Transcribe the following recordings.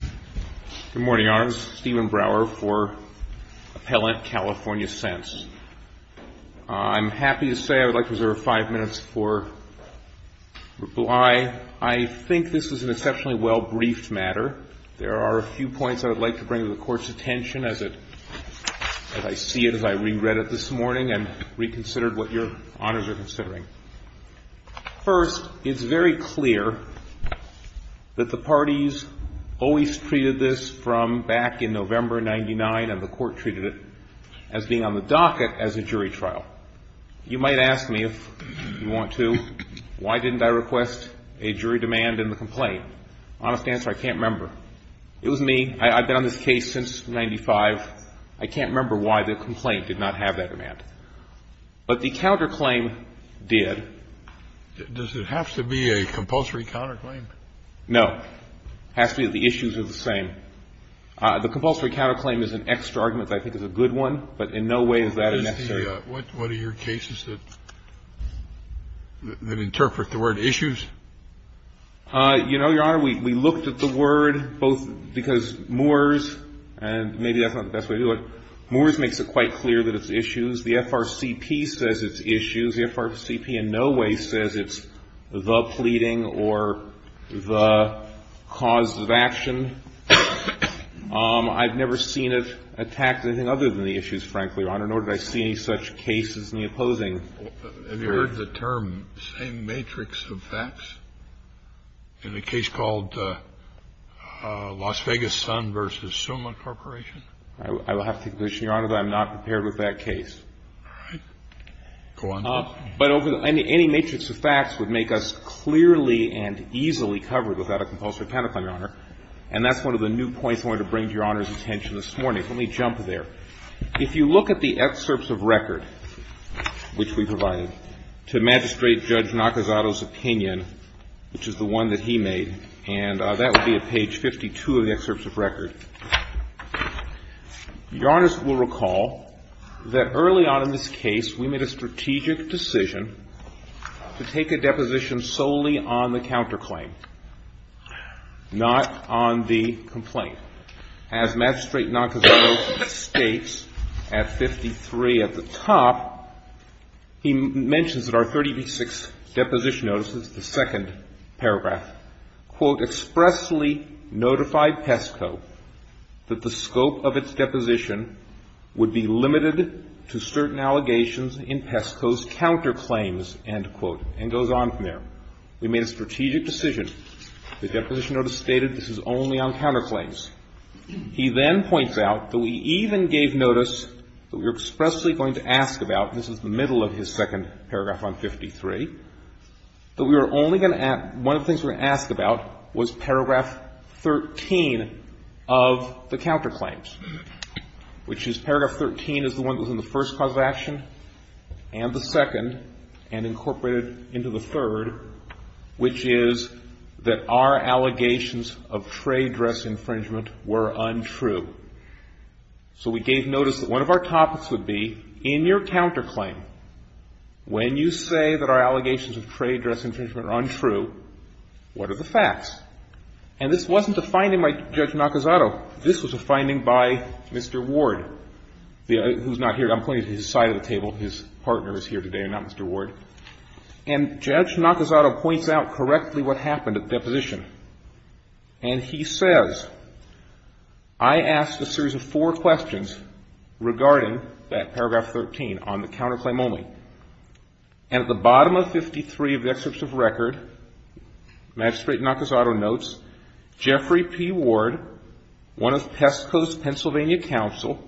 Good morning, Your Honors. Stephen Brower for Appellant California Scents. I'm happy to say I would like to reserve five minutes for reply. I think this is an exceptionally well-briefed matter. There are a few points I would like to bring to the Court's attention as I see it, as I reread it this morning and reconsidered what Your Honors are considering. First, it's very clear that the parties always treated this from back in November of 1999, and the Court treated it as being on the docket as a jury trial. You might ask me, if you want to, why didn't I request a jury demand in the complaint? Honest answer, I can't remember. It was me. I've been on this case since 1995. I can't remember why the complaint did not have that demand. But the counterclaim did. Does it have to be a compulsory counterclaim? No. It has to be that the issues are the same. The compulsory counterclaim is an extra argument that I think is a good one, but in no way is that necessary. What are your cases that interpret the word issues? You know, Your Honor, we looked at the word, both because Moores, and maybe that's not the best way to do it, Moores makes it quite clear that it's issues. The FRCP says it's issues. The FRCP in no way says it's the pleading or the cause of action. I've never seen it attack anything other than the issues, frankly, Your Honor, nor did I see any such cases in the opposing. Have you heard the term same matrix of facts in a case called Las Vegas Sun v. Suma Corporation? I will have to condition, Your Honor, that I'm not prepared with that case. All right. Go on. But any matrix of facts would make us clearly and easily covered without a compulsory counterclaim, Your Honor. And that's one of the new points I wanted to bring to Your Honor's attention this morning. Let me jump there. If you look at the excerpts of record which we provided to Magistrate Judge Nakazato's opinion, which is the one that he made, and that would be at page 52 of the excerpts of record, Your Honor will recall that early on in this case, we made a strategic decision to take a deposition solely on the counterclaim, not on the complaint. As Magistrate Nakazato states at 53 at the top, he mentions at our 36 deposition notices, the second paragraph, quote, expressly notified PESCO that the scope of its deposition would be limited to certain allegations in PESCO's counterclaims, end quote, and goes on from there. We made a strategic decision. The deposition notice stated this is only on counterclaims. He then points out that we even gave notice that we were expressly going to ask about, and this is the middle of his second paragraph on 53, that we were only going to ask, one of the things we were going to ask about was paragraph 13 of the counterclaims, which is paragraph 13 is the one that was in the first cause of action and the second and incorporated into the third, which is that our allegations of trade dress infringement were untrue. So we gave notice that one of our topics would be in your counterclaim, when you say that our allegations of trade dress infringement are untrue, what are the facts? And this wasn't a finding by Judge Nakazato. This was a finding by Mr. Ward, who's not here. I'm pointing to his side of the table. His partner is here today and not Mr. Ward. And Judge Nakazato points out correctly what happened at the deposition, and he says, I asked a series of four questions regarding that paragraph 13 on the counterclaim only, and at the bottom of 53 of the excerpts of record, Magistrate Nakazato notes, Jeffrey P. Ward, one of Pesco's Pennsylvania counsel,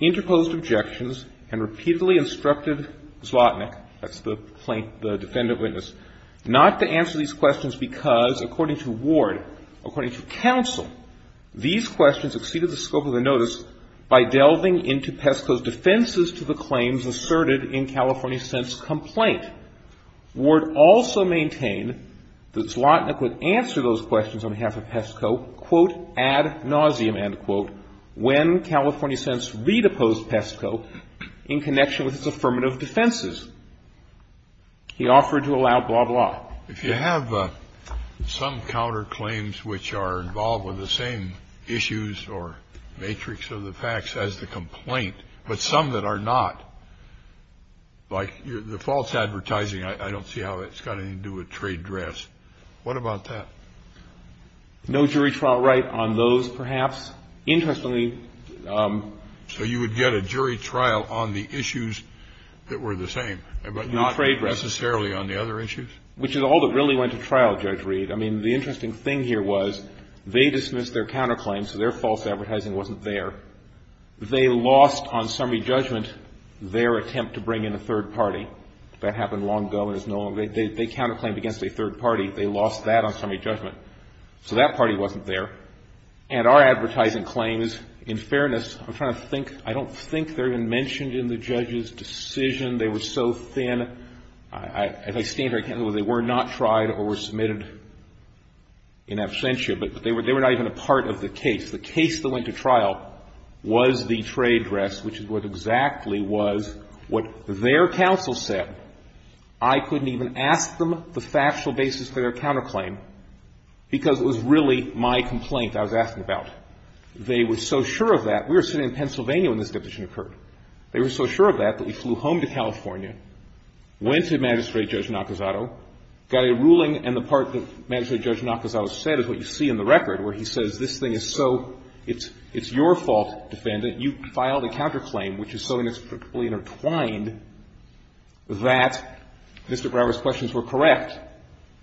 interposed objections and repeatedly instructed Zlotnick, that's the plaintiff, the defendant witness, not to answer these questions because, according to Ward, according to counsel, these questions exceeded the scope of the notice by delving into Pesco's defenses to the claims asserted in California's sentence complaint. And Ward also maintained that Zlotnick would answer those questions on behalf of Pesco, quote, ad nauseam, end quote, when California's sentence redeposed Pesco in connection with its affirmative defenses. He offered to allow blah, blah. If you have some counterclaims which are involved with the same issues or matrix of the facts as the complaint, but some that are not, like the false advertising, I don't see how that's got anything to do with trade drafts. What about that? No jury trial right on those, perhaps. Interestingly. So you would get a jury trial on the issues that were the same, but not necessarily on the other issues? Which is all that really went to trial, Judge Reed. I mean, the interesting thing here was they dismissed their counterclaims, so their false advertising wasn't there. They lost on summary judgment their attempt to bring in a third party. That happened long ago. They counterclaimed against a third party. They lost that on summary judgment. So that party wasn't there. And our advertising claims, in fairness, I'm trying to think, I don't think they're even mentioned in the judge's decision. They were so thin. As I stand here, I can't tell whether they were not tried or were submitted in absentia. But they were not even a part of the case. The case that went to trial was the trade drafts, which is what exactly was what their counsel said. I couldn't even ask them the factual basis for their counterclaim because it was really my complaint I was asking about. They were so sure of that. We were sitting in Pennsylvania when this decision occurred. They were so sure of that that we flew home to California, went to Magistrate Judge Nakazato, got a ruling. And the part that Magistrate Judge Nakazato said is what you see in the record where he says this thing is so, it's your fault, defendant, you filed a counterclaim which is so inextricably intertwined that Mr. Brower's questions were correct.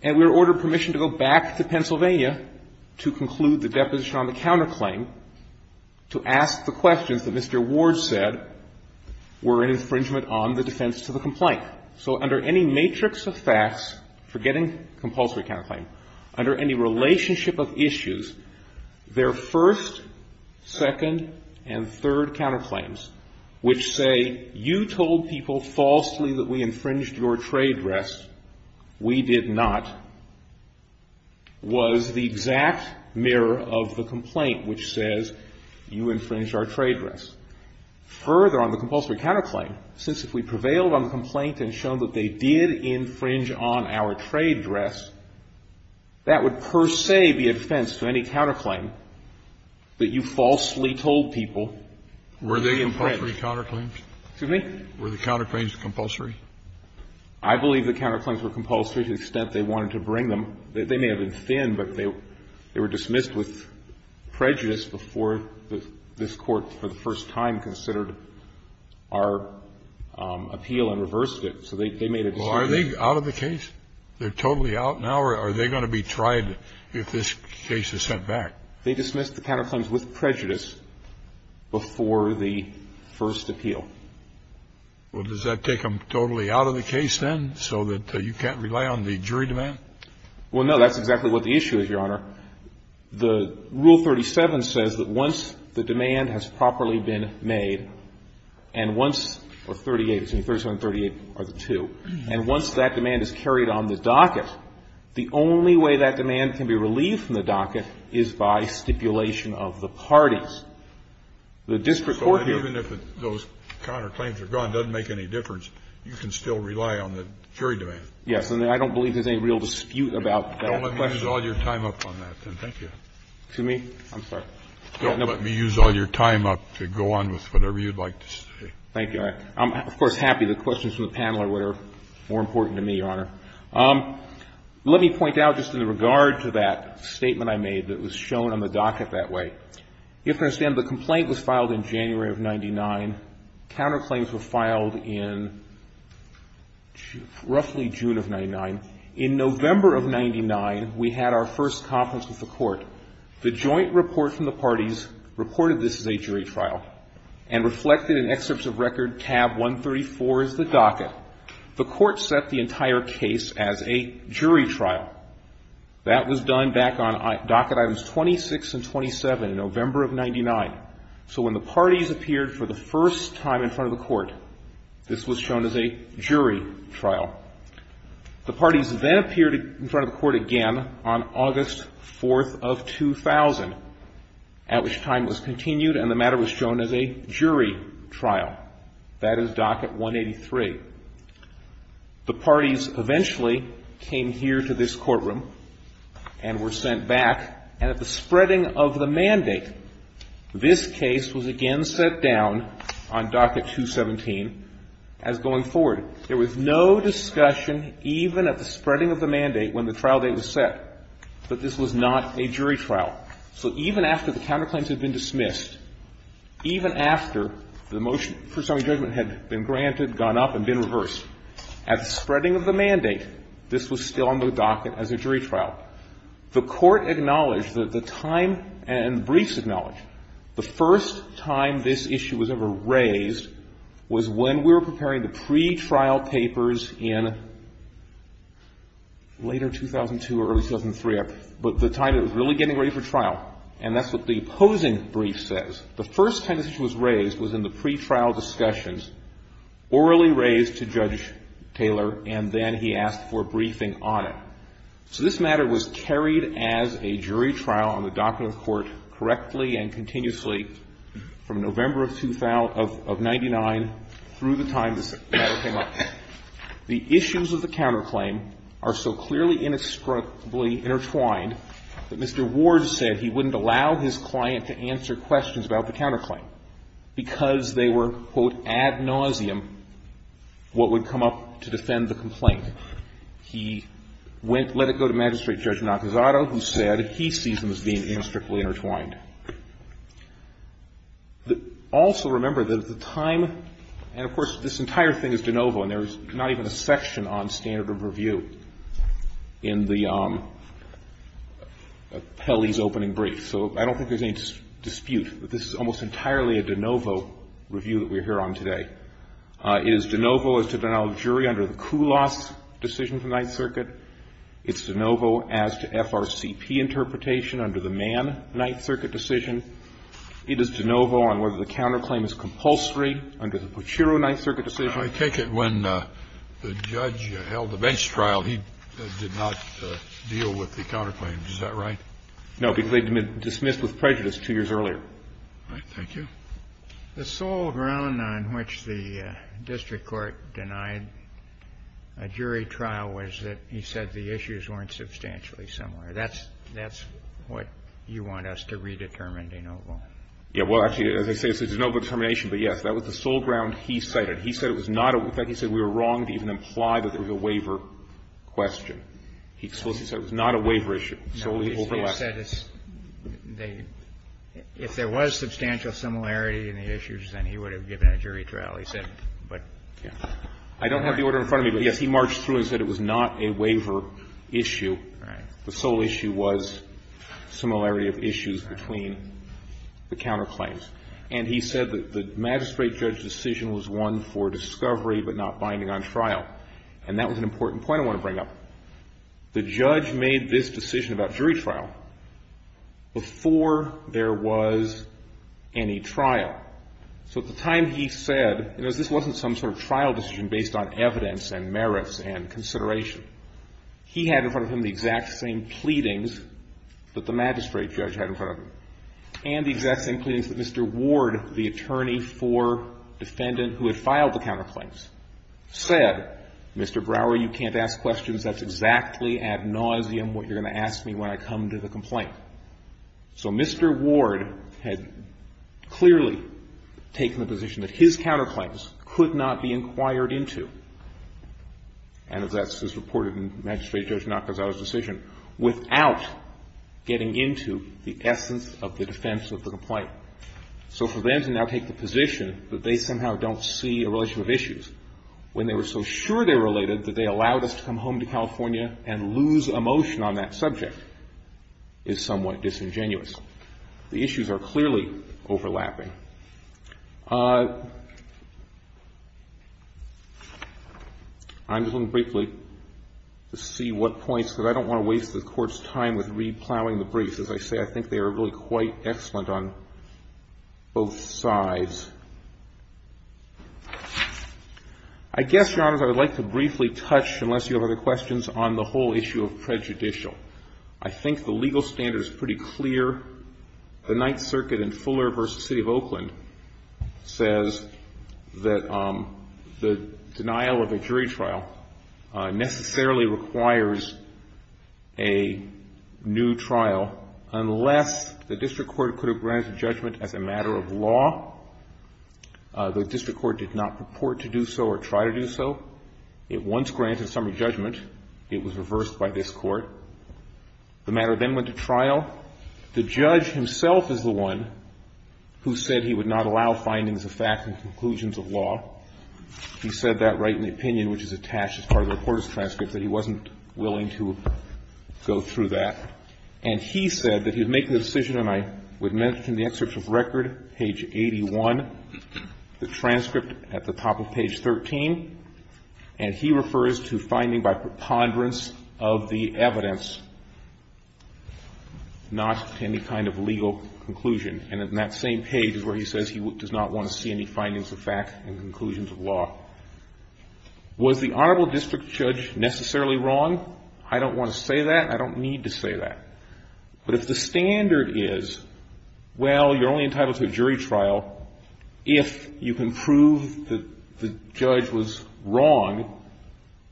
And we were ordered permission to go back to Pennsylvania to conclude the deposition on the counterclaim to ask the questions that Mr. Ward said were an infringement on the defense to the complaint. So under any matrix of facts, forgetting compulsory counterclaim, under any relationship of issues, their first, second, and third counterclaims, which say you told people falsely that we infringed your trade drafts, we did not, was the exact mirror of the complaint which says you infringed our trade drafts. Further on the compulsory counterclaim, since if we prevailed on the complaint and shown that they did infringe on our trade dress, that would per se be a defense to any counterclaim that you falsely told people. Kennedy. Were they compulsory counterclaims? Excuse me? Were the counterclaims compulsory? I believe the counterclaims were compulsory to the extent they wanted to bring them. They may have been thin, but they were dismissed with prejudice before this Court, for the first time, considered our appeal and reversed it. So they made a decision. Well, are they out of the case? They're totally out now, or are they going to be tried if this case is sent back? They dismissed the counterclaims with prejudice before the first appeal. Well, does that take them totally out of the case then so that you can't rely on the jury demand? Well, no. That's exactly what the issue is, Your Honor. The rule 37 says that once the demand has properly been made, and once the 38, 37 and 38 are the two, and once that demand is carried on the docket, the only way that demand can be relieved from the docket is by stipulation of the parties. The district court here So even if those counterclaims are gone, doesn't make any difference, you can still rely on the jury demand? Yes. And I don't believe there's any real dispute about that question. Let me use all your time up on that then, thank you. Excuse me? I'm sorry. Let me use all your time up to go on with whatever you'd like to say. Thank you. I'm, of course, happy the questions from the panel are what are more important to me, Your Honor. Let me point out just in regard to that statement I made that was shown on the docket that way. You have to understand the complaint was filed in January of 99. Counterclaims were filed in roughly June of 99. In November of 99, we had our first conference with the court. The joint report from the parties reported this as a jury trial and reflected in excerpts of record tab 134 as the docket. The court set the entire case as a jury trial. That was done back on docket items 26 and 27 in November of 99. So when the parties appeared for the first time in front of the court, this was shown as a jury trial. The parties then appeared in front of the court again on August 4th of 2000, at which time it was continued and the matter was shown as a jury trial. That is docket 183. The parties eventually came here to this courtroom and were sent back, and at the spreading of the mandate, this case was again set down on docket 217 as going forward. There was no discussion even at the spreading of the mandate when the trial date was set that this was not a jury trial. So even after the counterclaims had been dismissed, even after the motion for summary judgment had been granted, gone up and been reversed, at the spreading of the mandate, this was still on the docket as a jury trial. The court acknowledged that the time and briefs acknowledged the first time this issue was ever raised was when we were preparing the pretrial papers in later 2002 or early 2003, but the time it was really getting ready for trial. And that's what the opposing brief says. The first time this issue was raised was in the pretrial discussions, orally raised to Judge Taylor, and then he asked for a briefing on it. So this matter was carried as a jury trial on the doctrine of the court correctly and continuously from November of 1999 through the time this matter came up. The issues of the counterclaim are so clearly inextricably intertwined that Mr. Ward said he wouldn't allow his client to answer questions about the counterclaim because they were, quote, ad nauseum what would come up to defend the complaint. He went, let it go to Magistrate Judge Nakazato, who said he sees them as being Also remember that at the time, and of course, this entire thing is de novo, and there is not even a section on standard of review in the appellee's opening brief. So I don't think there's any dispute that this is almost entirely a de novo review that we're here on today. It is de novo as to denial of jury under the Kulos decision for Ninth Circuit. It's de novo as to FRCP interpretation under the Mann Ninth Circuit decision. It is de novo on whether the counterclaim is compulsory under the Pucciro Ninth Circuit decision. I take it when the judge held the bench trial, he did not deal with the counterclaim. Is that right? No, because they had been dismissed with prejudice two years earlier. All right. Thank you. The sole ground on which the district court denied a jury trial was that he said the issues weren't substantially similar. That's what you want us to redetermine de novo. Yeah. Well, actually, as I say, it's a de novo determination. But, yes, that was the sole ground he cited. He said it was not a – in fact, he said we were wrong to even imply that there was a waiver question. He explicitly said it was not a waiver issue. No, he said it's – if there was substantial similarity in the issues, then he would have given a jury trial, he said. But – I don't have the order in front of me, but, yes, he marched through and said it was not a waiver issue. Right. The sole issue was similarity of issues between the counterclaims. And he said that the magistrate judge's decision was one for discovery but not binding on trial. And that was an important point I want to bring up. The judge made this decision about jury trial before there was any trial. So at the time, he said, you know, this wasn't some sort of trial decision based on evidence and merits and consideration. He had in front of him the exact same pleadings that the magistrate judge had in front of him. And the exact same pleadings that Mr. Ward, the attorney for defendant who had filed the counterclaims, said, Mr. Brower, you can't ask questions. That's exactly ad nauseum what you're going to ask me when I come to the complaint. So Mr. Ward had clearly taken the position that his counterclaims could not be inquired into. And as that's reported in magistrate judge Nakazato's decision, without getting into the essence of the defense of the complaint. So for them to now take the position that they somehow don't see a relationship of issues when they were so sure they related that they allowed us to come home to California and lose emotion on that subject is somewhat disingenuous. The issues are clearly overlapping. I'm just going to briefly see what points, because I don't want to waste the Court's time with re-plowing the briefs. As I say, I think they are really quite excellent on both sides. I guess, Your Honors, I would like to briefly touch, unless you have other questions, on the whole issue of prejudicial. I think the legal standard is pretty clear. The Ninth Circuit in Fuller v. City of Oakland says that the denial of a jury trial necessarily requires a new trial unless the district court could have granted judgment as a matter of law. The district court did not purport to do so or try to do so. It once granted summary judgment. It was reversed by this Court. The matter then went to trial. The judge himself is the one who said he would not allow findings of fact and conclusions of law. He said that right in the opinion which is attached as part of the reporter's transcript, that he wasn't willing to go through that. And he said that he would make the decision, and I would mention in the excerpt of record, page 81, the transcript at the top of page 13, and he refers to finding by preponderance of the evidence, not to any kind of legal conclusion. And in that same page is where he says he does not want to see any findings of fact and conclusions of law. Was the honorable district judge necessarily wrong? I don't want to say that. I don't need to say that. But if the standard is, well, you're only entitled to a jury trial if you can prove that the judge was wrong,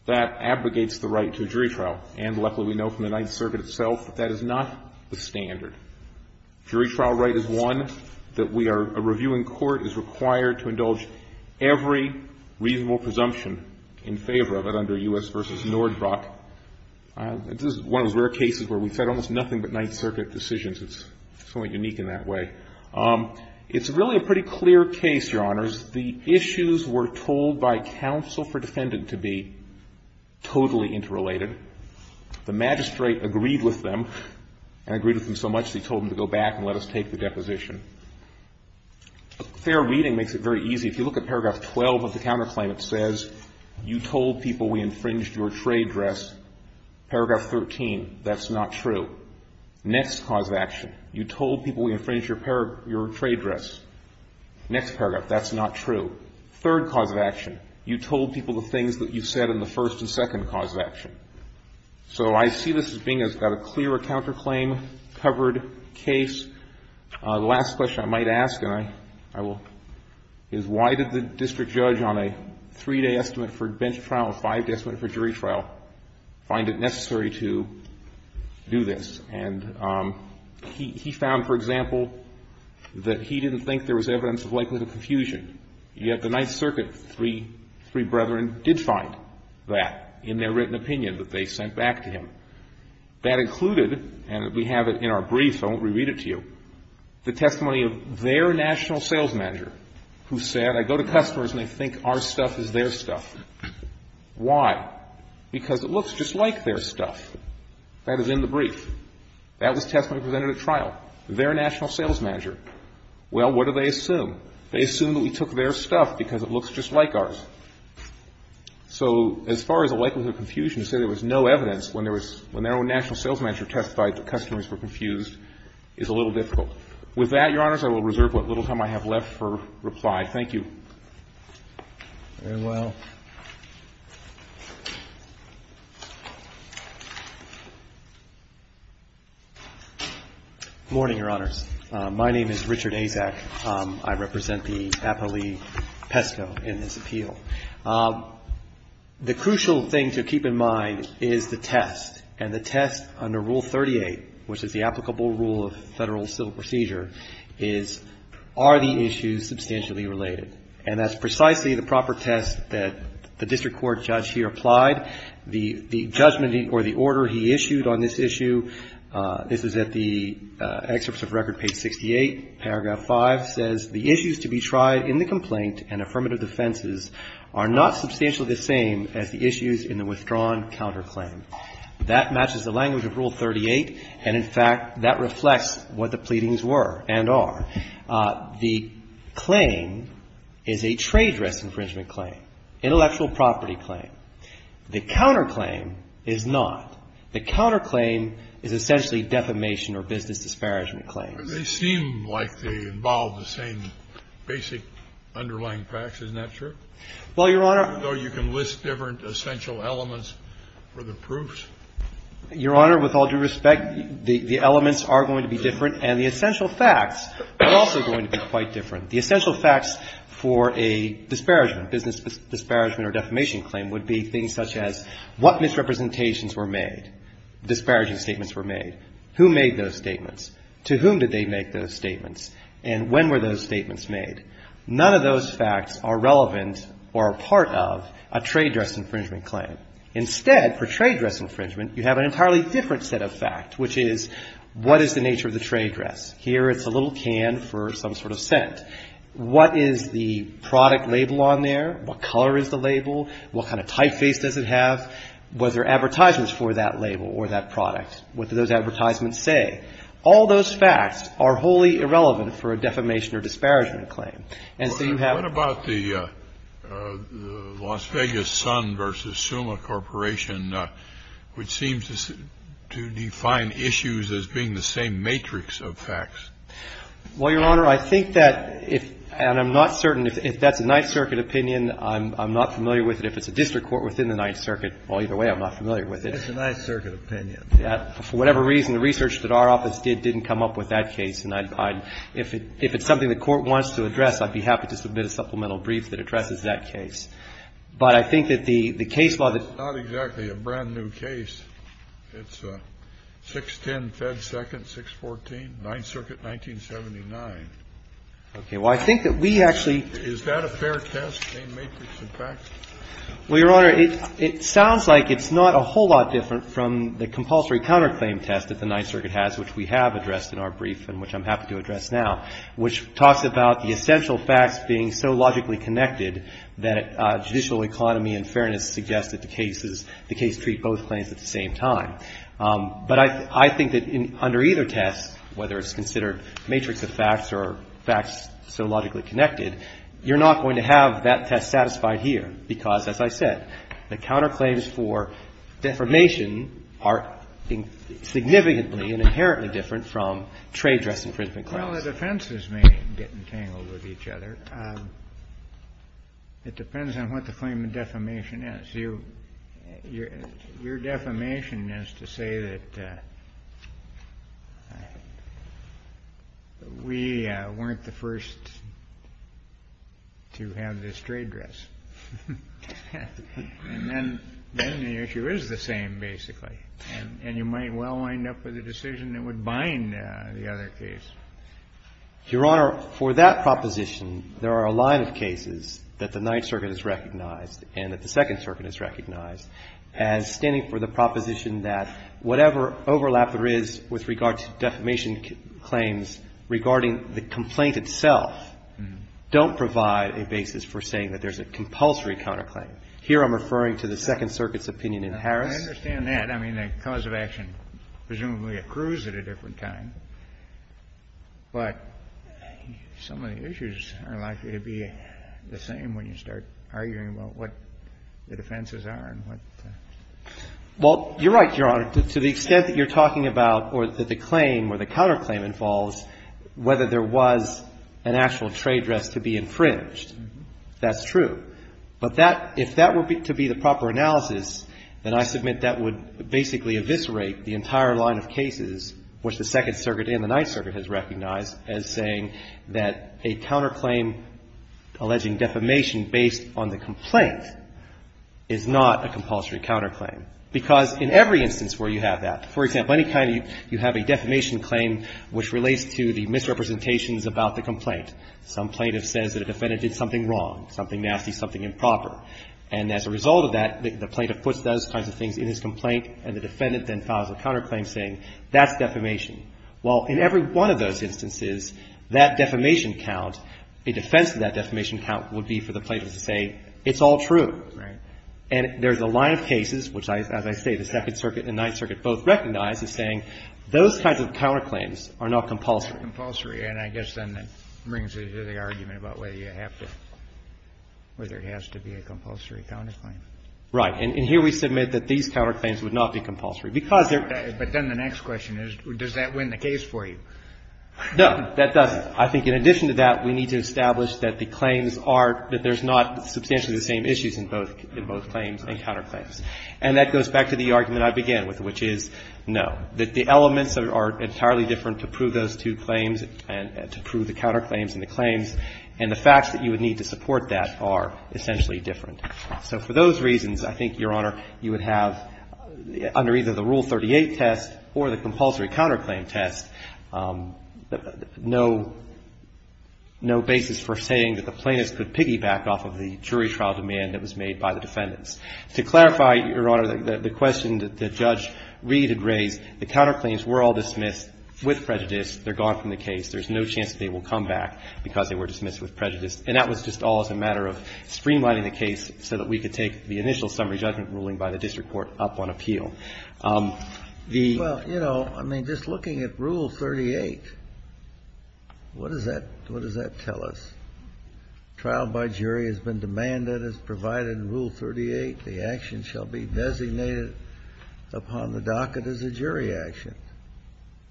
that abrogates the right to a jury trial. And luckily we know from the Ninth Circuit itself that that is not the standard. Jury trial right is one that we are reviewing court, is required to indulge every reasonable presumption in favor of it under U.S. v. Nordbrock. This is one of those rare cases where we've had almost nothing but Ninth Circuit decisions. It's somewhat unique in that way. It's really a pretty clear case, Your Honors. The issues were told by counsel for defendant to be totally interrelated. The magistrate agreed with them and agreed with them so much that he told them to go back and let us take the deposition. Fair reading makes it very easy. If you look at paragraph 12 of the counterclaim, it says you told people we infringed your trade dress. Paragraph 13, that's not true. Next cause of action, you told people we infringed your trade dress. Next paragraph, that's not true. Third cause of action, you told people the things that you said in the first and second cause of action. So I see this as being a clear counterclaim covered case. The last question I might ask, and I will, is why did the district judge on a three-day estimate for bench trial, a five-day estimate for jury trial, find it necessary to do this? And he found, for example, that he didn't think there was evidence of likelihood of confusion. Yet the Ninth Circuit three brethren did find that in their written opinion. They found that there was evidence of likelihood of confusion that they sent back to him. That included, and we have it in our brief, so I won't reread it to you, the testimony of their national sales manager who said, I go to customers and they think our stuff is their stuff. Why? Because it looks just like their stuff. That is in the brief. That was testimony presented at trial. Their national sales manager. Well, what do they assume? They assume that we took their stuff because it looks just like ours. So as far as the likelihood of confusion, to say there was no evidence when there was, when their own national sales manager testified that customers were confused is a little difficult. With that, Your Honors, I will reserve what little time I have left for reply. Thank you. Very well. Good morning, Your Honors. My name is Richard Azak. I represent the appellee PESCO in this appeal. The crucial thing to keep in mind is the test. And the test under Rule 38, which is the applicable rule of federal civil procedure, is are the issues substantially related. And that's precisely the proper test that the district court judge here applied. The judgment or the order he issued on this issue, this is at the excerpts of Record Page 68, Paragraph 5, says the issues to be tried in the complaint and affirmative defenses are not substantially the same as the issues in the withdrawn counterclaim. That matches the language of Rule 38. And, in fact, that reflects what the pleadings were and are. The claim is a trade risk infringement claim, intellectual property claim. The counterclaim is not. The counterclaim is essentially defamation or business disparagement claim. They seem like they involve the same basic underlying facts. Isn't that true? Well, Your Honor. Though you can list different essential elements for the proofs. Your Honor, with all due respect, the elements are going to be different. And the essential facts are also going to be quite different. The essential facts for a disparagement, business disparagement or defamation claim would be things such as what misrepresentations were made, disparaging statements were made. Who made those statements? To whom did they make those statements? And when were those statements made? None of those facts are relevant or a part of a trade risk infringement claim. Instead, for trade risk infringement, you have an entirely different set of facts, which is what is the nature of the trade risk? Here it's a little can for some sort of scent. What is the product label on there? What color is the label? What kind of typeface does it have? Was there advertisements for that label or that product? What do those advertisements say? All those facts are wholly irrelevant for a defamation or disparagement claim. And so you have to be careful. Kennedy. What about the Las Vegas Sun v. Suma Corporation, which seems to define issues as being the same matrix of facts? Well, Your Honor, I think that if, and I'm not certain if that's a Ninth Circuit opinion, I'm not familiar with it. If it's a district court within the Ninth Circuit, well, either way, I'm not familiar It's a Ninth Circuit opinion. For whatever reason, the research that our office did didn't come up with that case. And if it's something the Court wants to address, I'd be happy to submit a supplemental brief that addresses that case. But I think that the case law that ---- It's not exactly a brand-new case. It's 610 Fed 2nd, 614, Ninth Circuit, 1979. Okay. Well, I think that we actually ---- Is that a fair test, same matrix of facts? Well, Your Honor, it sounds like it's not a whole lot different from the compulsory counterclaim test that the Ninth Circuit has, which we have addressed in our brief and which I'm happy to address now, which talks about the essential facts being so logically connected that judicial economy and fairness suggest that the case is ---- the case treat both claims at the same time. But I think that under either test, whether it's considered matrix of facts or facts so logically connected, you're not going to have that test satisfied here. Because, as I said, the counterclaims for defamation are significantly and inherently different from trade dress infringement claims. Well, the defenses may get entangled with each other. It depends on what the claim of defamation is. So your defamation is to say that we weren't the first to have this trade dress. And then the issue is the same, basically. And you might well wind up with a decision that would bind the other case. Your Honor, for that proposition, there are a line of cases that the Ninth Circuit has recognized and that the Second Circuit has recognized as standing for the proposition that whatever overlap there is with regard to defamation claims regarding the complaint itself don't provide a basis for saying that there's a compulsory counterclaim. Here I'm referring to the Second Circuit's opinion in Harris. I understand that. I mean, the cause of action presumably accrues at a different time. But some of the issues are likely to be the same when you start arguing about what the defenses are and what the ---- Well, you're right, Your Honor. To the extent that you're talking about or that the claim or the counterclaim involves whether there was an actual trade dress to be infringed, that's true. But that — if that were to be the proper analysis, then I submit that would basically eviscerate the entire line of cases which the Second Circuit and the Ninth Circuit has recognized as saying that a counterclaim alleging defamation based on the complaint is not a compulsory counterclaim. Because in every instance where you have that, for example, any time you have a defamation claim which relates to the misrepresentations about the complaint, some plaintiff says that a defendant did something wrong, something nasty, something improper. And as a result of that, the plaintiff puts those kinds of things in his complaint and the defendant then files a counterclaim saying that's defamation. Well, in every one of those instances, that defamation count, a defense to that defamation count would be for the plaintiff to say it's all true. Right. And there's a line of cases which, as I say, the Second Circuit and Ninth Circuit both recognize as saying those kinds of counterclaims are not compulsory. And I guess then that brings it to the argument about whether you have to, whether it has to be a compulsory counterclaim. Right. And here we submit that these counterclaims would not be compulsory because they're But then the next question is, does that win the case for you? No, that doesn't. I think in addition to that, we need to establish that the claims are, that there's not substantially the same issues in both claims and counterclaims. And that goes back to the argument I began with, which is no, that the elements are entirely different to prove those two claims and to prove the counterclaims and the claims. And the facts that you would need to support that are essentially different. So for those reasons, I think, Your Honor, you would have, under either the Rule 38 test or the compulsory counterclaim test, no basis for saying that the plaintiff could piggyback off of the jury trial demand that was made by the defendants. To clarify, Your Honor, the question that Judge Reed had raised, the counterclaims were all dismissed with prejudice. They're gone from the case. There's no chance they will come back because they were dismissed with prejudice. And that was just all as a matter of streamlining the case so that we could take the initial summary judgment ruling by the district court up on appeal. The ---- Well, you know, I mean, just looking at Rule 38, what does that tell us? Trial by jury has been demanded as provided in Rule 38. The action shall be designated upon the docket as a jury action.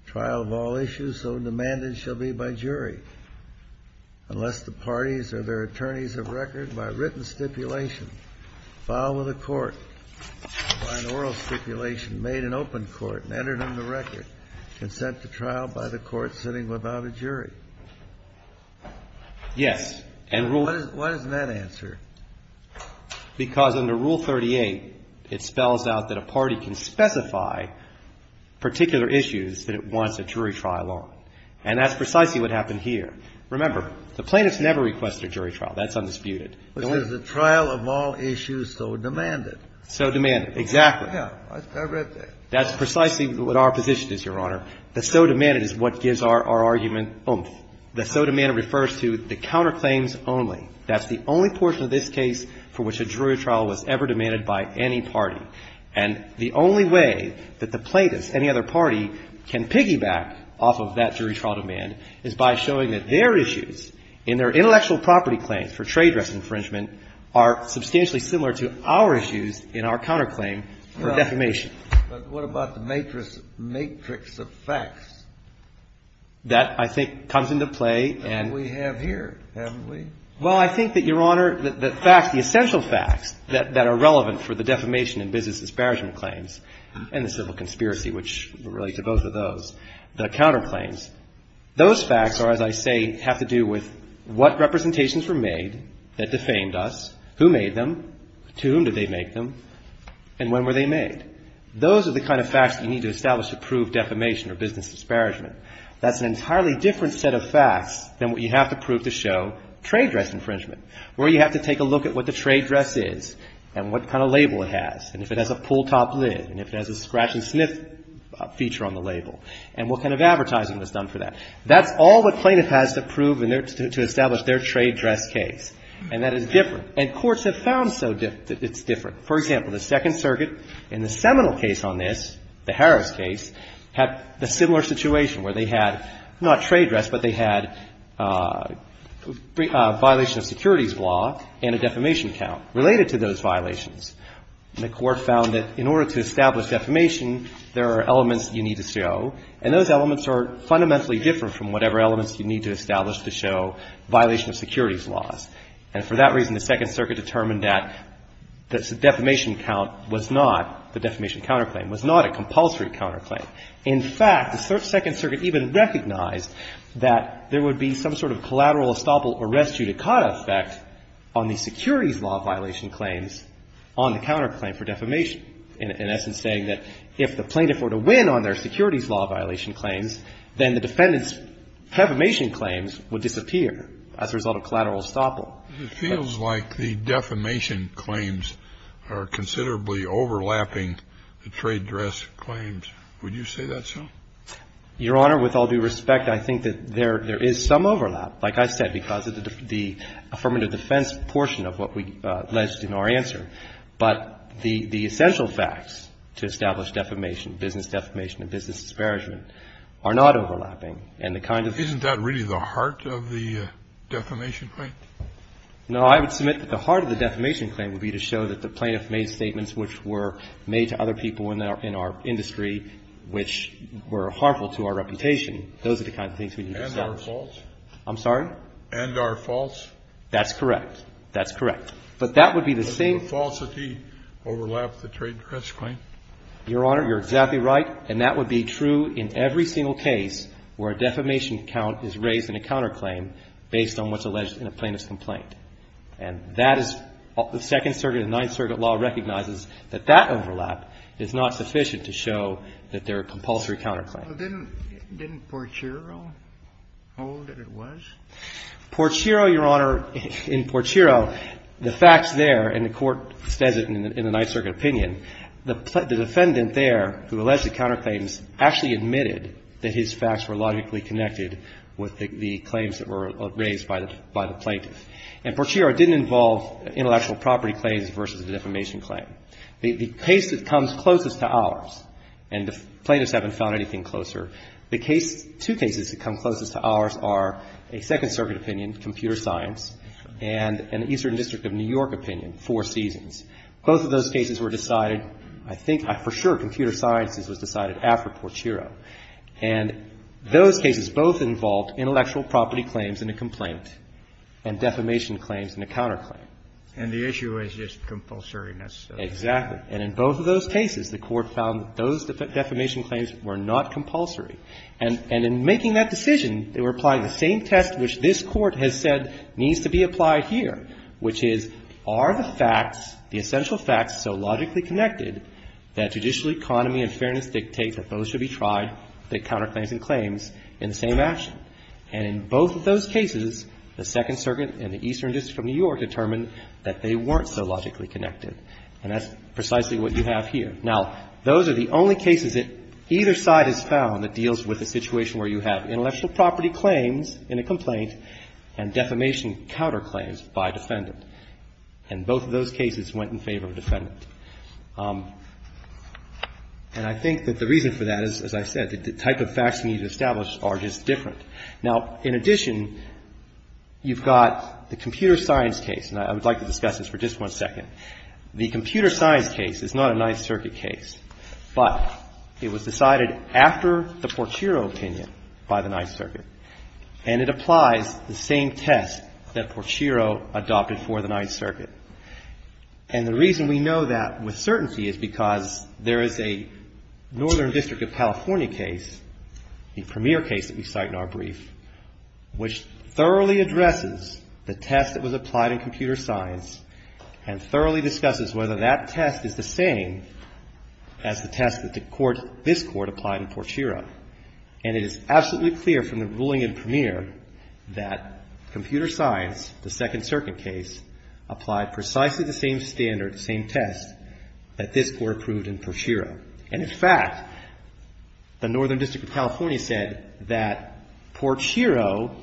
Trial of all issues so demanded shall be by jury unless the parties or their attorneys of record by written stipulation file with a court by an oral stipulation made in open court and entered in the record consent to trial by the court sitting without a jury. Yes. And Rule ---- Why doesn't that answer? Because under Rule 38, it spells out that a party can specify particular issues that it wants a jury trial on. And that's precisely what happened here. Remember, the plaintiffs never request a jury trial. That's undisputed. It says the trial of all issues so demanded. So demanded. Exactly. Yes. I read that. That's precisely what our position is, Your Honor. The so demanded is what gives our argument oomph. The so demanded refers to the counterclaims only. That's the only portion of this case for which a jury trial was ever demanded by any party. And the only way that the plaintiffs, any other party, can piggyback off of that jury trial demand is by showing that their issues in their intellectual property claims for trade dress infringement are substantially similar to our issues in our counterclaim for defamation. But what about the matrix of facts? That, I think, comes into play. And we have here, haven't we? Well, I think that, Your Honor, the facts, the essential facts that are relevant for the defamation and business disparagement claims and the civil conspiracy, which relate to both of those, the counterclaims, those facts are, as I say, have to do with what representations were made that defamed us, who made them, to whom did they make them, and when were they made. Those are the kind of facts that you need to establish to prove defamation or business disparagement. That's an entirely different set of facts than what you have to prove to show trade dress infringement, where you have to take a look at what the trade dress is and what kind of label it has, and if it has a pull-top lid, and if it has a scratch-and-sniff feature on the label, and what kind of advertising was done for that. That's all the plaintiff has to prove in their to establish their trade dress case. And that is different. And courts have found so that it's different. For example, the Second Circuit in the Seminole case on this, the Harris case, had a similar situation where they had not trade dress, but they had a violation of securities law and a defamation count related to those violations. And the Court found that in order to establish defamation, there are elements you need to show, and those elements are fundamentally different from whatever elements you need to establish to show violation of securities laws. And for that reason, the Second Circuit determined that the defamation count was not the defamation counterclaim, was not a compulsory counterclaim. In fact, the Second Circuit even recognized that there would be some sort of collateral estoppel arrest due to caught effect on the securities law violation claims on the counterclaim for defamation, in essence saying that if the plaintiff were to win on their securities law violation claims, then the defendant's defamation claims would disappear as a result of collateral estoppel. It feels like the defamation claims are considerably overlapping the trade dress claims. Would you say that's so? Your Honor, with all due respect, I think that there is some overlap, like I said, because of the affirmative defense portion of what we alleged in our answer. But the essential facts to establish defamation, business defamation and business disparagement, are not overlapping. And the kind of the... Isn't that really the heart of the defamation claim? No, I would submit that the heart of the defamation claim would be to show that the plaintiff made statements which were made to other people in our industry which were harmful to our reputation. Those are the kinds of things we need to establish. And are false. I'm sorry? And are false. That's correct. That's correct. But that would be the same... But the falsity overlaps the trade dress claim. Your Honor, you're exactly right. And that would be true in every single case where a defamation count is raised in a counterclaim based on what's alleged in a plaintiff's complaint. And that is... The Second Circuit and Ninth Circuit law recognizes that that overlap is not sufficient to show that they're a compulsory counterclaim. Didn't Porchiro hold that it was? Porchiro, Your Honor, in Porchiro, the facts there, and the Court says it in the Ninth Circuit opinion, the defendant there who alleged the counterclaims actually admitted that his facts were logically connected with the claims that were raised by the plaintiff. And Porchiro didn't involve intellectual property claims versus a defamation claim. The case that comes closest to ours, and the plaintiffs haven't found anything closer, the two cases that come closest to ours are a Second Circuit opinion, computer science, and an Eastern District of New York opinion, Four Seasons. Both of those cases were decided, I think for sure computer science was decided after Porchiro. And those cases both involved intellectual property claims in a complaint and defamation claims in a counterclaim. And the issue is just compulsoriness. Exactly. And in both of those cases, the Court found that those defamation claims were not compulsory. And in making that decision, they were applying the same test which this Court has said needs to be applied here, which is are the facts, the essential facts so logically connected that judicial economy and fairness dictates that those should be tried, the counterclaims and claims, in the same action. And in both of those cases, the Second Circuit and the Eastern District of New York determined that they weren't so logically connected. And that's precisely what you have here. Now, those are the only cases that either side has found that deals with a situation where you have intellectual property claims in a complaint and defamation counterclaims by defendant. And both of those cases went in favor of defendant. And I think that the reason for that is, as I said, the type of facts needed to establish are just different. Now, in addition, you've got the computer science case, and I would like to discuss this for just one second. The computer science case is not a Ninth Circuit case, but it was decided after the Porchiro opinion by the Ninth Circuit. And it applies the same test that Porchiro adopted for the Ninth Circuit. And the reason we know that with certainty is because there is a Northern District of California case, the premier case that we cite in our brief, which thoroughly addresses the test that was applied in computer science and thoroughly discusses whether that test is the same as the test that this Court applied in Porchiro. And it is absolutely clear from the ruling in premier that computer science, the Second Circuit case, applied precisely the same standard, the same test that this Court approved in Porchiro. And, in fact, the Northern District of California said that Porchiro,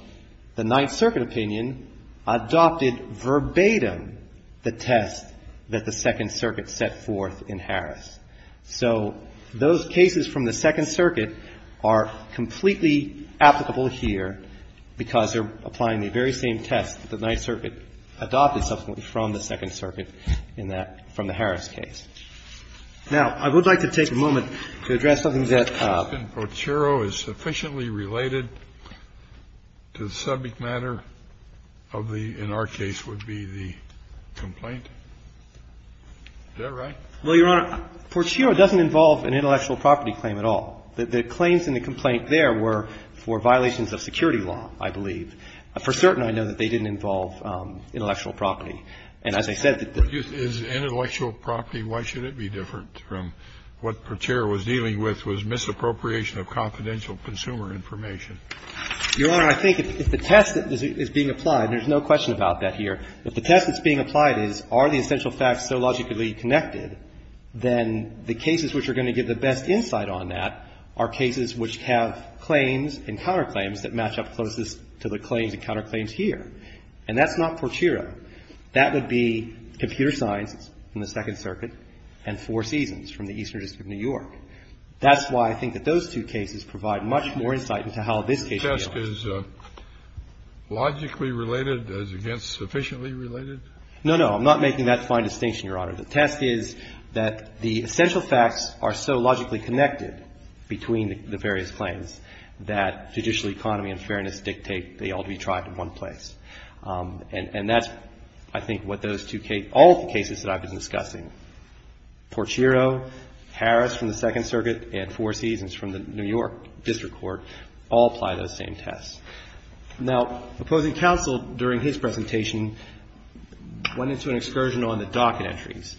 the Ninth Circuit opinion, adopted verbatim the test that the Second Circuit set forth in Harris. So those cases from the Second Circuit are completely applicable here because they're applying the very same test that the Ninth Circuit adopted subsequently from the Second Circuit in that — from the Harris case. Now, I would like to take a moment to address something that — Kennedy. Porchiro is sufficiently related to the subject matter of the — in our case would be the complaint. Is that right? Well, Your Honor, Porchiro doesn't involve an intellectual property claim at all. The claims in the complaint there were for violations of security law, I believe. For certain, I know that they didn't involve intellectual property. And as I said, the — Is intellectual property, why should it be different from what Porchiro was dealing with was misappropriation of confidential consumer information? Your Honor, I think if the test that is being applied, and there's no question about that here, if the test that's being applied is are the essential facts so logically connected, then the cases which are going to give the best insight on that are cases which have claims and counterclaims that match up closest to the claims and counterclaims here. And that's not Porchiro. That would be computer science in the Second Circuit and Four Seasons from the Eastern District of New York. That's why I think that those two cases provide much more insight into how this case deals. The test is logically related as against sufficiently related? No, no. I'm not making that fine distinction, Your Honor. The test is that the essential facts are so logically connected between the various claims that judicial economy and fairness dictate they ought to be tried in one place. And that's, I think, what those two cases — all of the cases that I've been discussing, Porchiro, Harris from the Second Circuit, and Four Seasons from the New York District Court all apply those same tests. Now, opposing counsel during his presentation went into an excursion on the docket entries,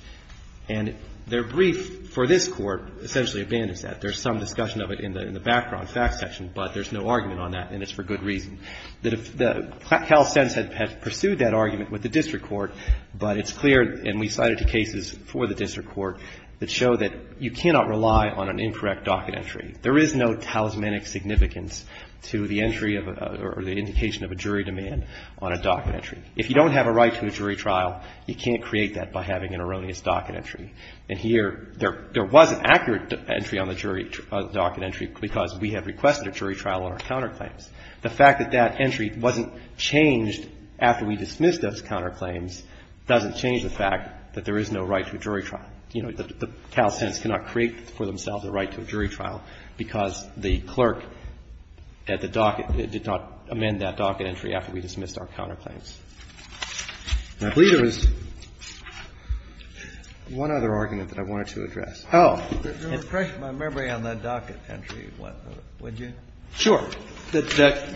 and their brief for this Court essentially abandons that. There's some discussion of it in the background facts section, but there's no argument on that, and it's for good reason. CalSense had pursued that argument with the district court, but it's clear, and we cited two cases for the district court, that show that you cannot rely on an incorrect docket entry. There is no talismanic significance to the entry or the indication of a jury demand on a docket entry. If you don't have a right to a jury trial, you can't create that by having an erroneous docket entry. And here, there was an accurate entry on the jury docket entry because we have requested a jury trial on our counterclaims. The fact that that entry wasn't changed after we dismissed those counterclaims doesn't change the fact that there is no right to a jury trial. You know, the CalSense cannot create for themselves a right to a jury trial because the clerk at the docket did not amend that docket entry after we dismissed our counterclaims. And I believe there was one other argument that I wanted to address. Kennedy. Oh. If there was pressure by memory on that docket entry, would you? Sure. The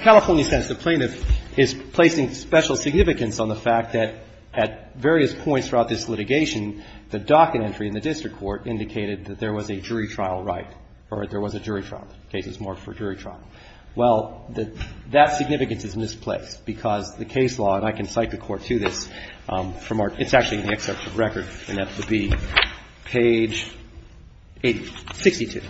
California sense, the plaintiff is placing special significance on the fact that at various points throughout this litigation, the docket entry in the district court indicated that there was a jury trial right or there was a jury trial, cases marked for jury trial. Well, that significance is misplaced because the case law, and I can cite the Court to this from our – it's actually in the excerpt of record, and that would be page 62.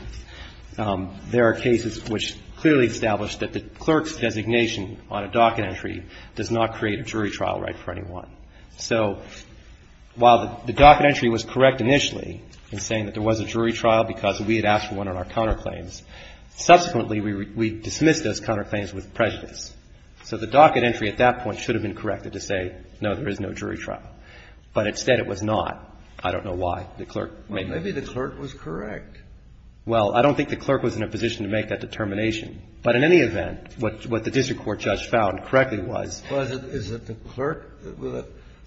There are cases which clearly establish that the clerk's designation on a docket entry does not create a jury trial right for anyone. So while the docket entry was correct initially in saying that there was a jury trial because we had asked for one on our counterclaims, subsequently we dismissed those counterclaims with prejudice. So the docket entry at that point should have been corrected to say, no, there is no jury trial. But instead it was not. I don't know why the clerk made that decision. Well, maybe the clerk was correct. Well, I don't think the clerk was in a position to make that determination. But in any event, what the district court judge found correctly was – Well, is it the clerk?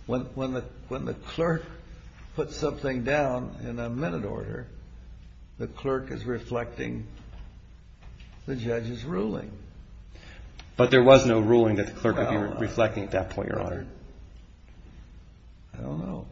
When the clerk puts something down in a minute order, the clerk is reflecting the judge's ruling. But there was no ruling that the clerk would be reflecting at that point, Your Honor. I don't know.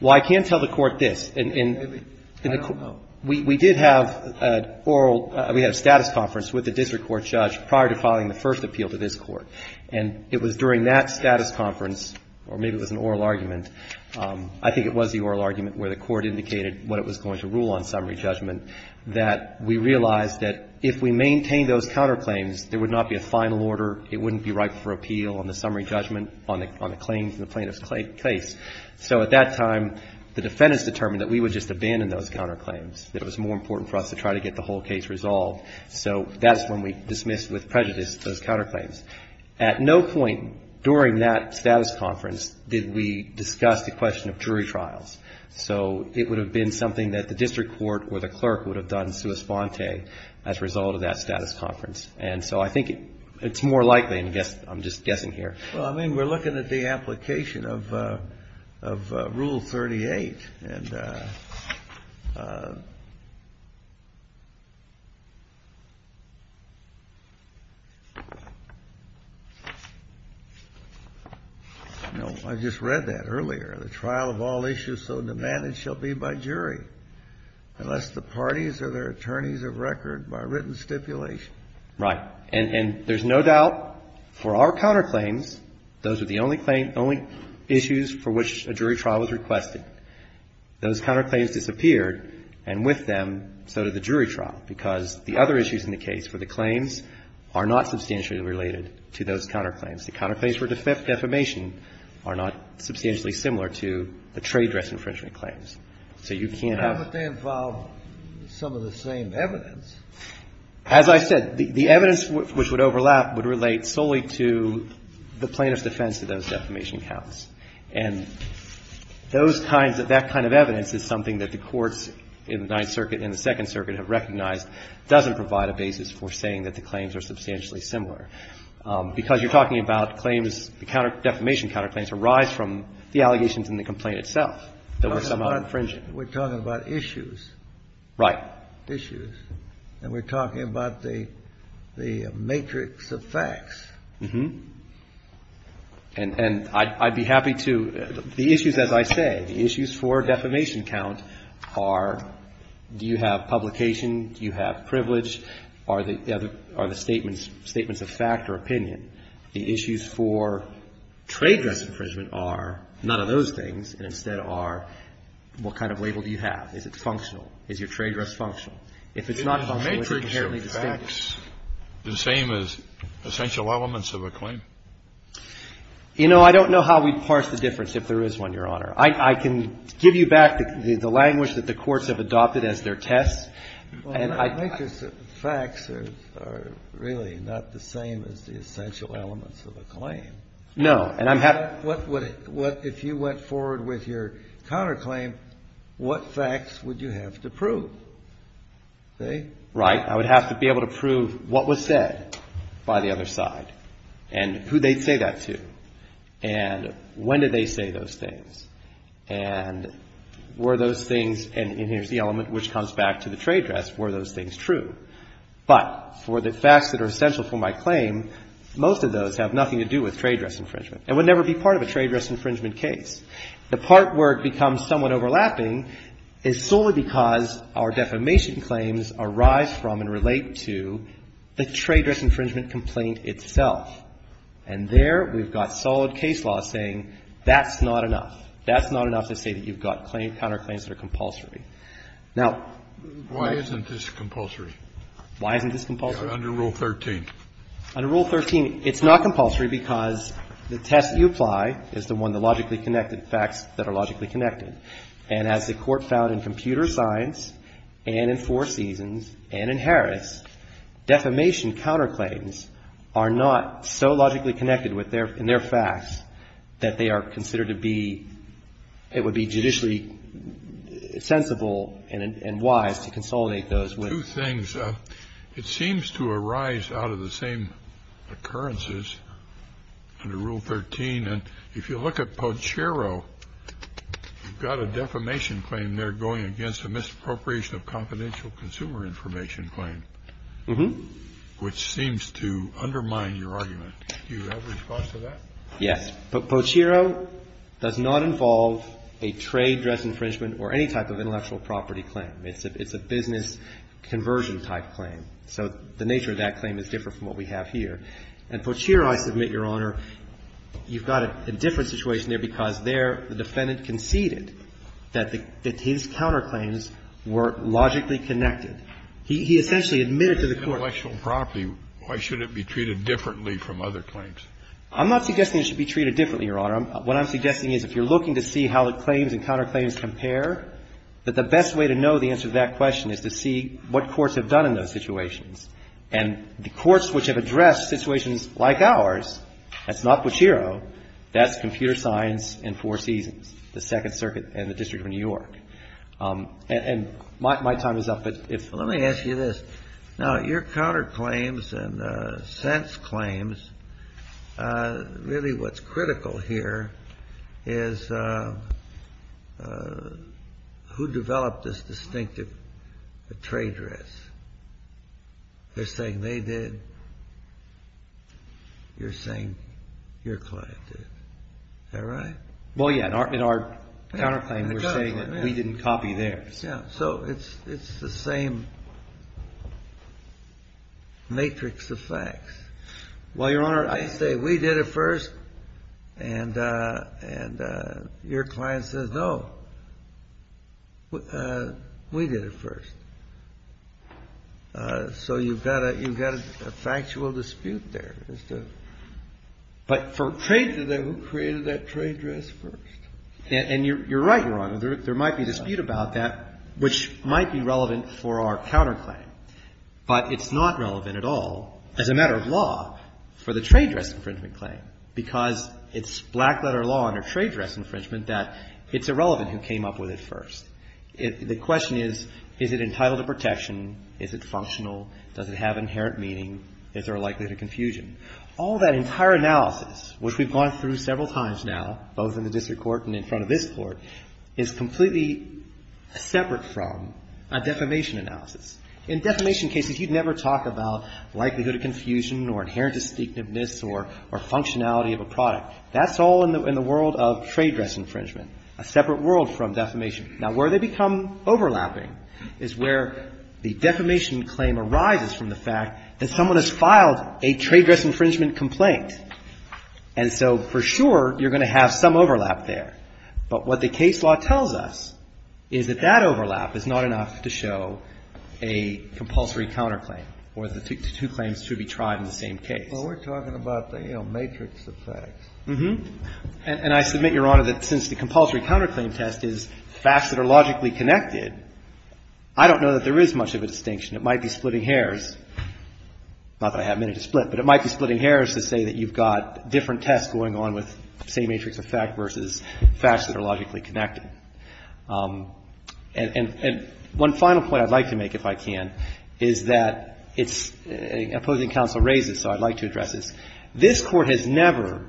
Well, I can tell the Court this. Maybe. I don't know. Well, we did have an oral – we had a status conference with the district court judge prior to filing the first appeal to this Court. And it was during that status conference, or maybe it was an oral argument, I think it was the oral argument where the Court indicated what it was going to rule on summary judgment, that we realized that if we maintained those counterclaims, there would not be a final order. It wouldn't be ripe for appeal on the summary judgment on the claims in the plaintiff's case. So at that time, the defendants determined that we would just abandon those counterclaims, that it was more important for us to try to get the whole case resolved. So that's when we dismissed with prejudice those counterclaims. At no point during that status conference did we discuss the question of jury trials. So it would have been something that the district court or the clerk would have done sua sponte as a result of that status conference. And so I think it's more likely, and I'm just guessing here. Well, I mean, we're looking at the application of Rule 38. And I just read that earlier. The trial of all issues so demanded shall be by jury, unless the parties or their attorneys have record by written stipulation. Right. And there's no doubt for our counterclaims, those are the only claim, only issues for which a jury trial was requested. Those counterclaims disappeared, and with them, so did the jury trial, because the other issues in the case for the claims are not substantially related to those counterclaims. The counterclaims for defamation are not substantially similar to the trade dress infringement claims. So you can't have. But they involve some of the same evidence. As I said, the evidence which would overlap would relate solely to the plaintiff's defense of those defamation counts. And those kinds of that kind of evidence is something that the courts in the Ninth Circuit and the Second Circuit have recognized doesn't provide a basis for saying that the claims are substantially similar, because you're talking about claims, defamation counterclaims arise from the allegations in the complaint itself. We're talking about issues. Right. Issues. And we're talking about the matrix of facts. Uh-huh. And I'd be happy to. The issues, as I say, the issues for defamation count are do you have publication, do you have privilege, are the statements a fact or opinion? The issues for trade dress infringement are none of those things, and instead are what kind of label do you have? Is it functional? Is your trade dress functional? If it's not functional, is it inherently distinct? Is the matrix of facts the same as essential elements of a claim? You know, I don't know how we'd parse the difference if there is one, Your Honor. I can give you back the language that the courts have adopted as their tests, and I can't. Well, the matrix of facts are really not the same as the essential elements of a claim. No, and I'm happy to. If you went forward with your counterclaim, what facts would you have to prove? Say? Right. I would have to be able to prove what was said by the other side and who they'd say that to and when did they say those things and were those things, and here's the element which comes back to the trade dress, were those things true? But for the facts that are essential for my claim, most of those have nothing to do with trade They're not part of a trade dress infringement case. The part where it becomes somewhat overlapping is solely because our defamation claims arise from and relate to the trade dress infringement complaint itself, and there we've got solid case law saying that's not enough. That's not enough to say that you've got counterclaims that are compulsory. Now why isn't this compulsory? Why isn't this compulsory? Under Rule 13. Under Rule 13, it's not compulsory because the test you apply is the one that logically connected, facts that are logically connected. And as the Court found in Computer Science and in Four Seasons and in Harris, defamation counterclaims are not so logically connected in their facts that they are considered to be it would be judicially sensible and wise to consolidate those. Two things. It seems to arise out of the same occurrences under Rule 13. And if you look at Pochero, you've got a defamation claim there going against a misappropriation of confidential consumer information claim, which seems to undermine your argument. Do you have a response to that? Yes. But Pochero does not involve a trade dress infringement or any type of intellectual property claim. It's a business conversion type claim. So the nature of that claim is different from what we have here. And Pochero, I submit, Your Honor, you've got a different situation there because there the defendant conceded that the his counterclaims were logically connected. He essentially admitted to the Court. If it's intellectual property, why should it be treated differently from other claims? I'm not suggesting it should be treated differently, Your Honor. What I'm suggesting is if you're looking to see how the claims and counterclaims compare, that the best way to know the answer to that question is to see what courts have done in those situations. And the courts which have addressed situations like ours, that's not Pochero. That's Computer Science and Four Seasons, the Second Circuit and the District of New York. And my time is up. Let me ask you this. Now, your counterclaims and sense claims, really what's critical here is who developed this distinctive trade dress? They're saying they did. You're saying your client did. Is that right? Well, yeah. In our counterclaim, we're saying that we didn't copy theirs. Yeah. So it's the same matrix of facts. Well, Your Honor, I say we did it first, and your client says, no, we did it first. So you've got a factual dispute there. But for trade, who created that trade dress first? And you're right, Your Honor. There might be a dispute about that, which might be relevant for our counterclaim. But it's not relevant at all as a matter of law for the trade dress infringement claim, because it's black letter law under trade dress infringement that it's irrelevant who came up with it first. The question is, is it entitled to protection? Is it functional? Does it have inherent meaning? Is there a likelihood of confusion? All that entire analysis, which we've gone through several times now, both in the district court and in front of this Court, is completely separate from a defamation analysis. In defamation cases, you'd never talk about likelihood of confusion or inherent distinctiveness or functionality of a product. That's all in the world of trade dress infringement, a separate world from defamation. Now, where they become overlapping is where the defamation claim arises from the fact that someone has filed a trade dress infringement complaint. And so, for sure, you're going to have some overlap there. But what the case law tells us is that that overlap is not enough to show a compulsory counterclaim or the two claims to be tried in the same case. Well, we're talking about the, you know, matrix of facts. Uh-huh. And I submit, Your Honor, that since the compulsory counterclaim test is facts that are logically connected, I don't know that there is much of a distinction. It might be splitting hairs. Not that I have many to split, but it might be splitting hairs to say that you've got different tests going on with the same matrix of fact versus facts that are logically connected. And one final point I'd like to make, if I can, is that it's an opposing counsel raises, so I'd like to address this. This Court has never,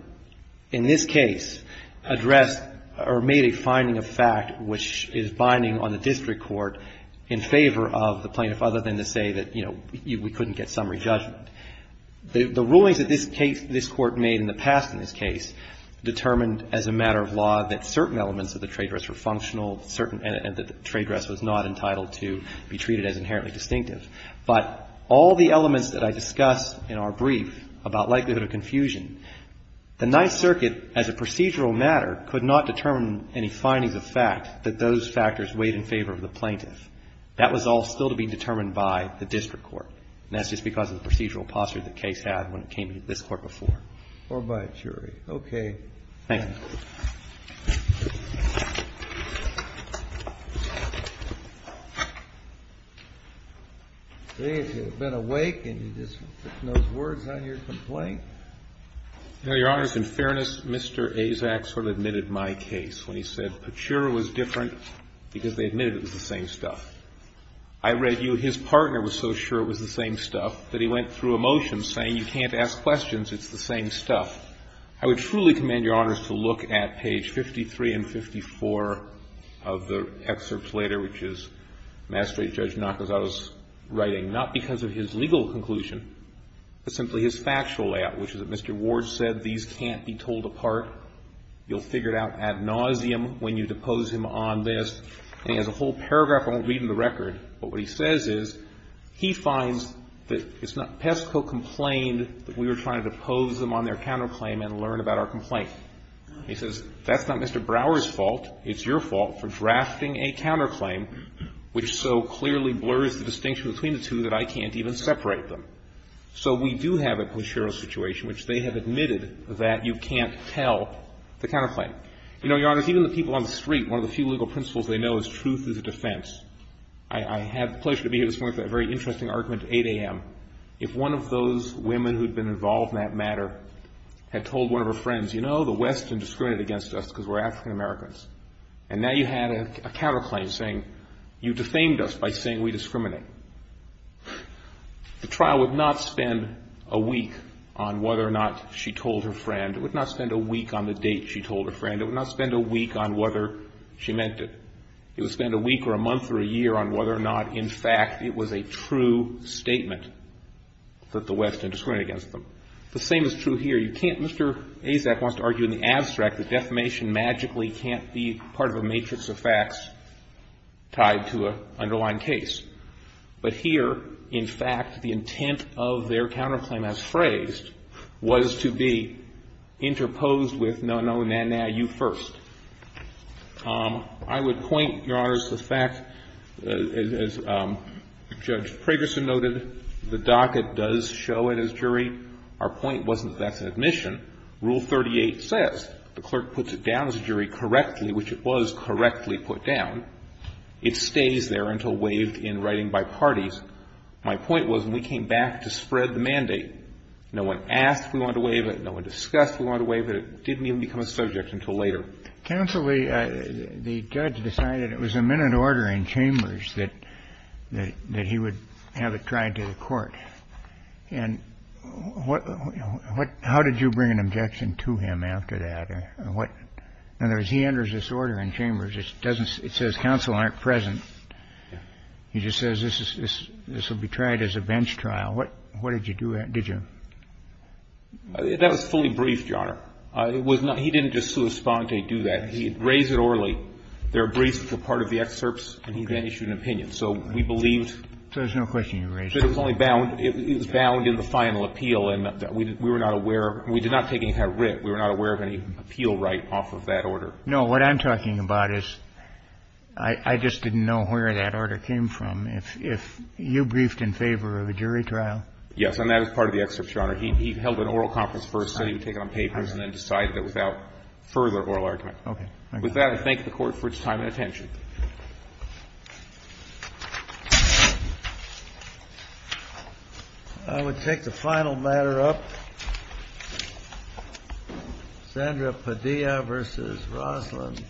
in this case, addressed or made a finding of fact which is binding on the district court in favor of the plaintiff other than to say that, you know, we couldn't get summary judgment. The rulings that this case, this Court made in the past in this case determined as a matter of law that certain elements of the trade dress were functional, certain that the trade dress was not entitled to be treated as inherently distinctive. But all the elements that I discussed in our brief about likelihood of confusion, the Ninth Circuit, as a procedural matter, could not determine any findings of fact that those factors weighed in favor of the plaintiff. That was all still to be determined by the district court, and that's just because of the procedural posture the case had when it came to this Court before. Thank you. Today, if you've been awake and you just put those words on your complaint. Your Honor, in fairness, Mr. Azak sort of admitted my case when he said Pachura was different because they admitted it was the same stuff. I read you his partner was so sure it was the same stuff that he went through a motion saying you can't ask questions, it's the same stuff. I would truly commend Your Honors to look at page 53 and 54 of the excerpts later, which is Mastery Judge Nakazato's writing, not because of his legal conclusion, but simply his factual layout, which is that Mr. Ward said these can't be told apart. You'll figure it out ad nauseum when you depose him on this. And he has a whole paragraph I won't read in the record, but what he says is he finds that it's not Pesco complained that we were trying to depose them on their counterclaim and learn about our complaint. He says that's not Mr. Brower's fault, it's your fault for drafting a counterclaim which so clearly blurs the distinction between the two that I can't even separate them. So we do have a Pachura situation which they have admitted that you can't tell the counterclaim. You know, Your Honors, even the people on the street, one of the few legal principles they know is truth is a defense. I had the pleasure to be here this morning with a very interesting argument at 8 a.m. If one of those women who had been involved in that matter had told one of her friends, you know, the West had discriminated against us because we're African-Americans. And now you had a counterclaim saying you defamed us by saying we discriminate. The trial would not spend a week on whether or not she told her friend. It would not spend a week on the date she told her friend. It would not spend a week on whether she meant it. It would spend a week or a month or a year on whether or not, in fact, it was a true statement that the West had discriminated against them. The same is true here. You can't Mr. Azak wants to argue in the abstract that defamation magically can't be part of a matrix of facts tied to an underlying case. But here, in fact, the intent of their counterclaim as phrased was to be interposed with no, no, nah, nah, you first. I would point, Your Honors, the fact, as Judge Pragerson noted, the docket does show it as jury. Our point wasn't that's an admission. Rule 38 says the clerk puts it down as a jury correctly, which it was correctly put down. It stays there until waived in writing by parties. My point was when we came back to spread the mandate, no one asked if we wanted to waive it, no one discussed if we wanted to waive it. It didn't even become a subject until later. Counsel, the judge decided it was a minute order in Chambers that he would have it tried to the court. And how did you bring an objection to him after that? In other words, he enters this order in Chambers. It says counsel aren't present. He just says this will be tried as a bench trial. Did you? That was fully briefed, Your Honor. It was not. He didn't just sua sponte do that. He raised it orally. There were briefs that were part of the excerpts, and he then issued an opinion. So we believed. So there's no question you raised it. It was only bound. It was bound in the final appeal, and we were not aware. We did not take any kind of writ. We were not aware of any appeal right off of that order. No. What I'm talking about is I just didn't know where that order came from. If you briefed in favor of a jury trial. And that was part of the excerpts, Your Honor. He held an oral conference first, so he would take it on papers and then decide it without further oral argument. Okay. Thank you. With that, I thank the Court for its time and attention. I would take the final matter up. Sandra Padilla v. Rosslyn.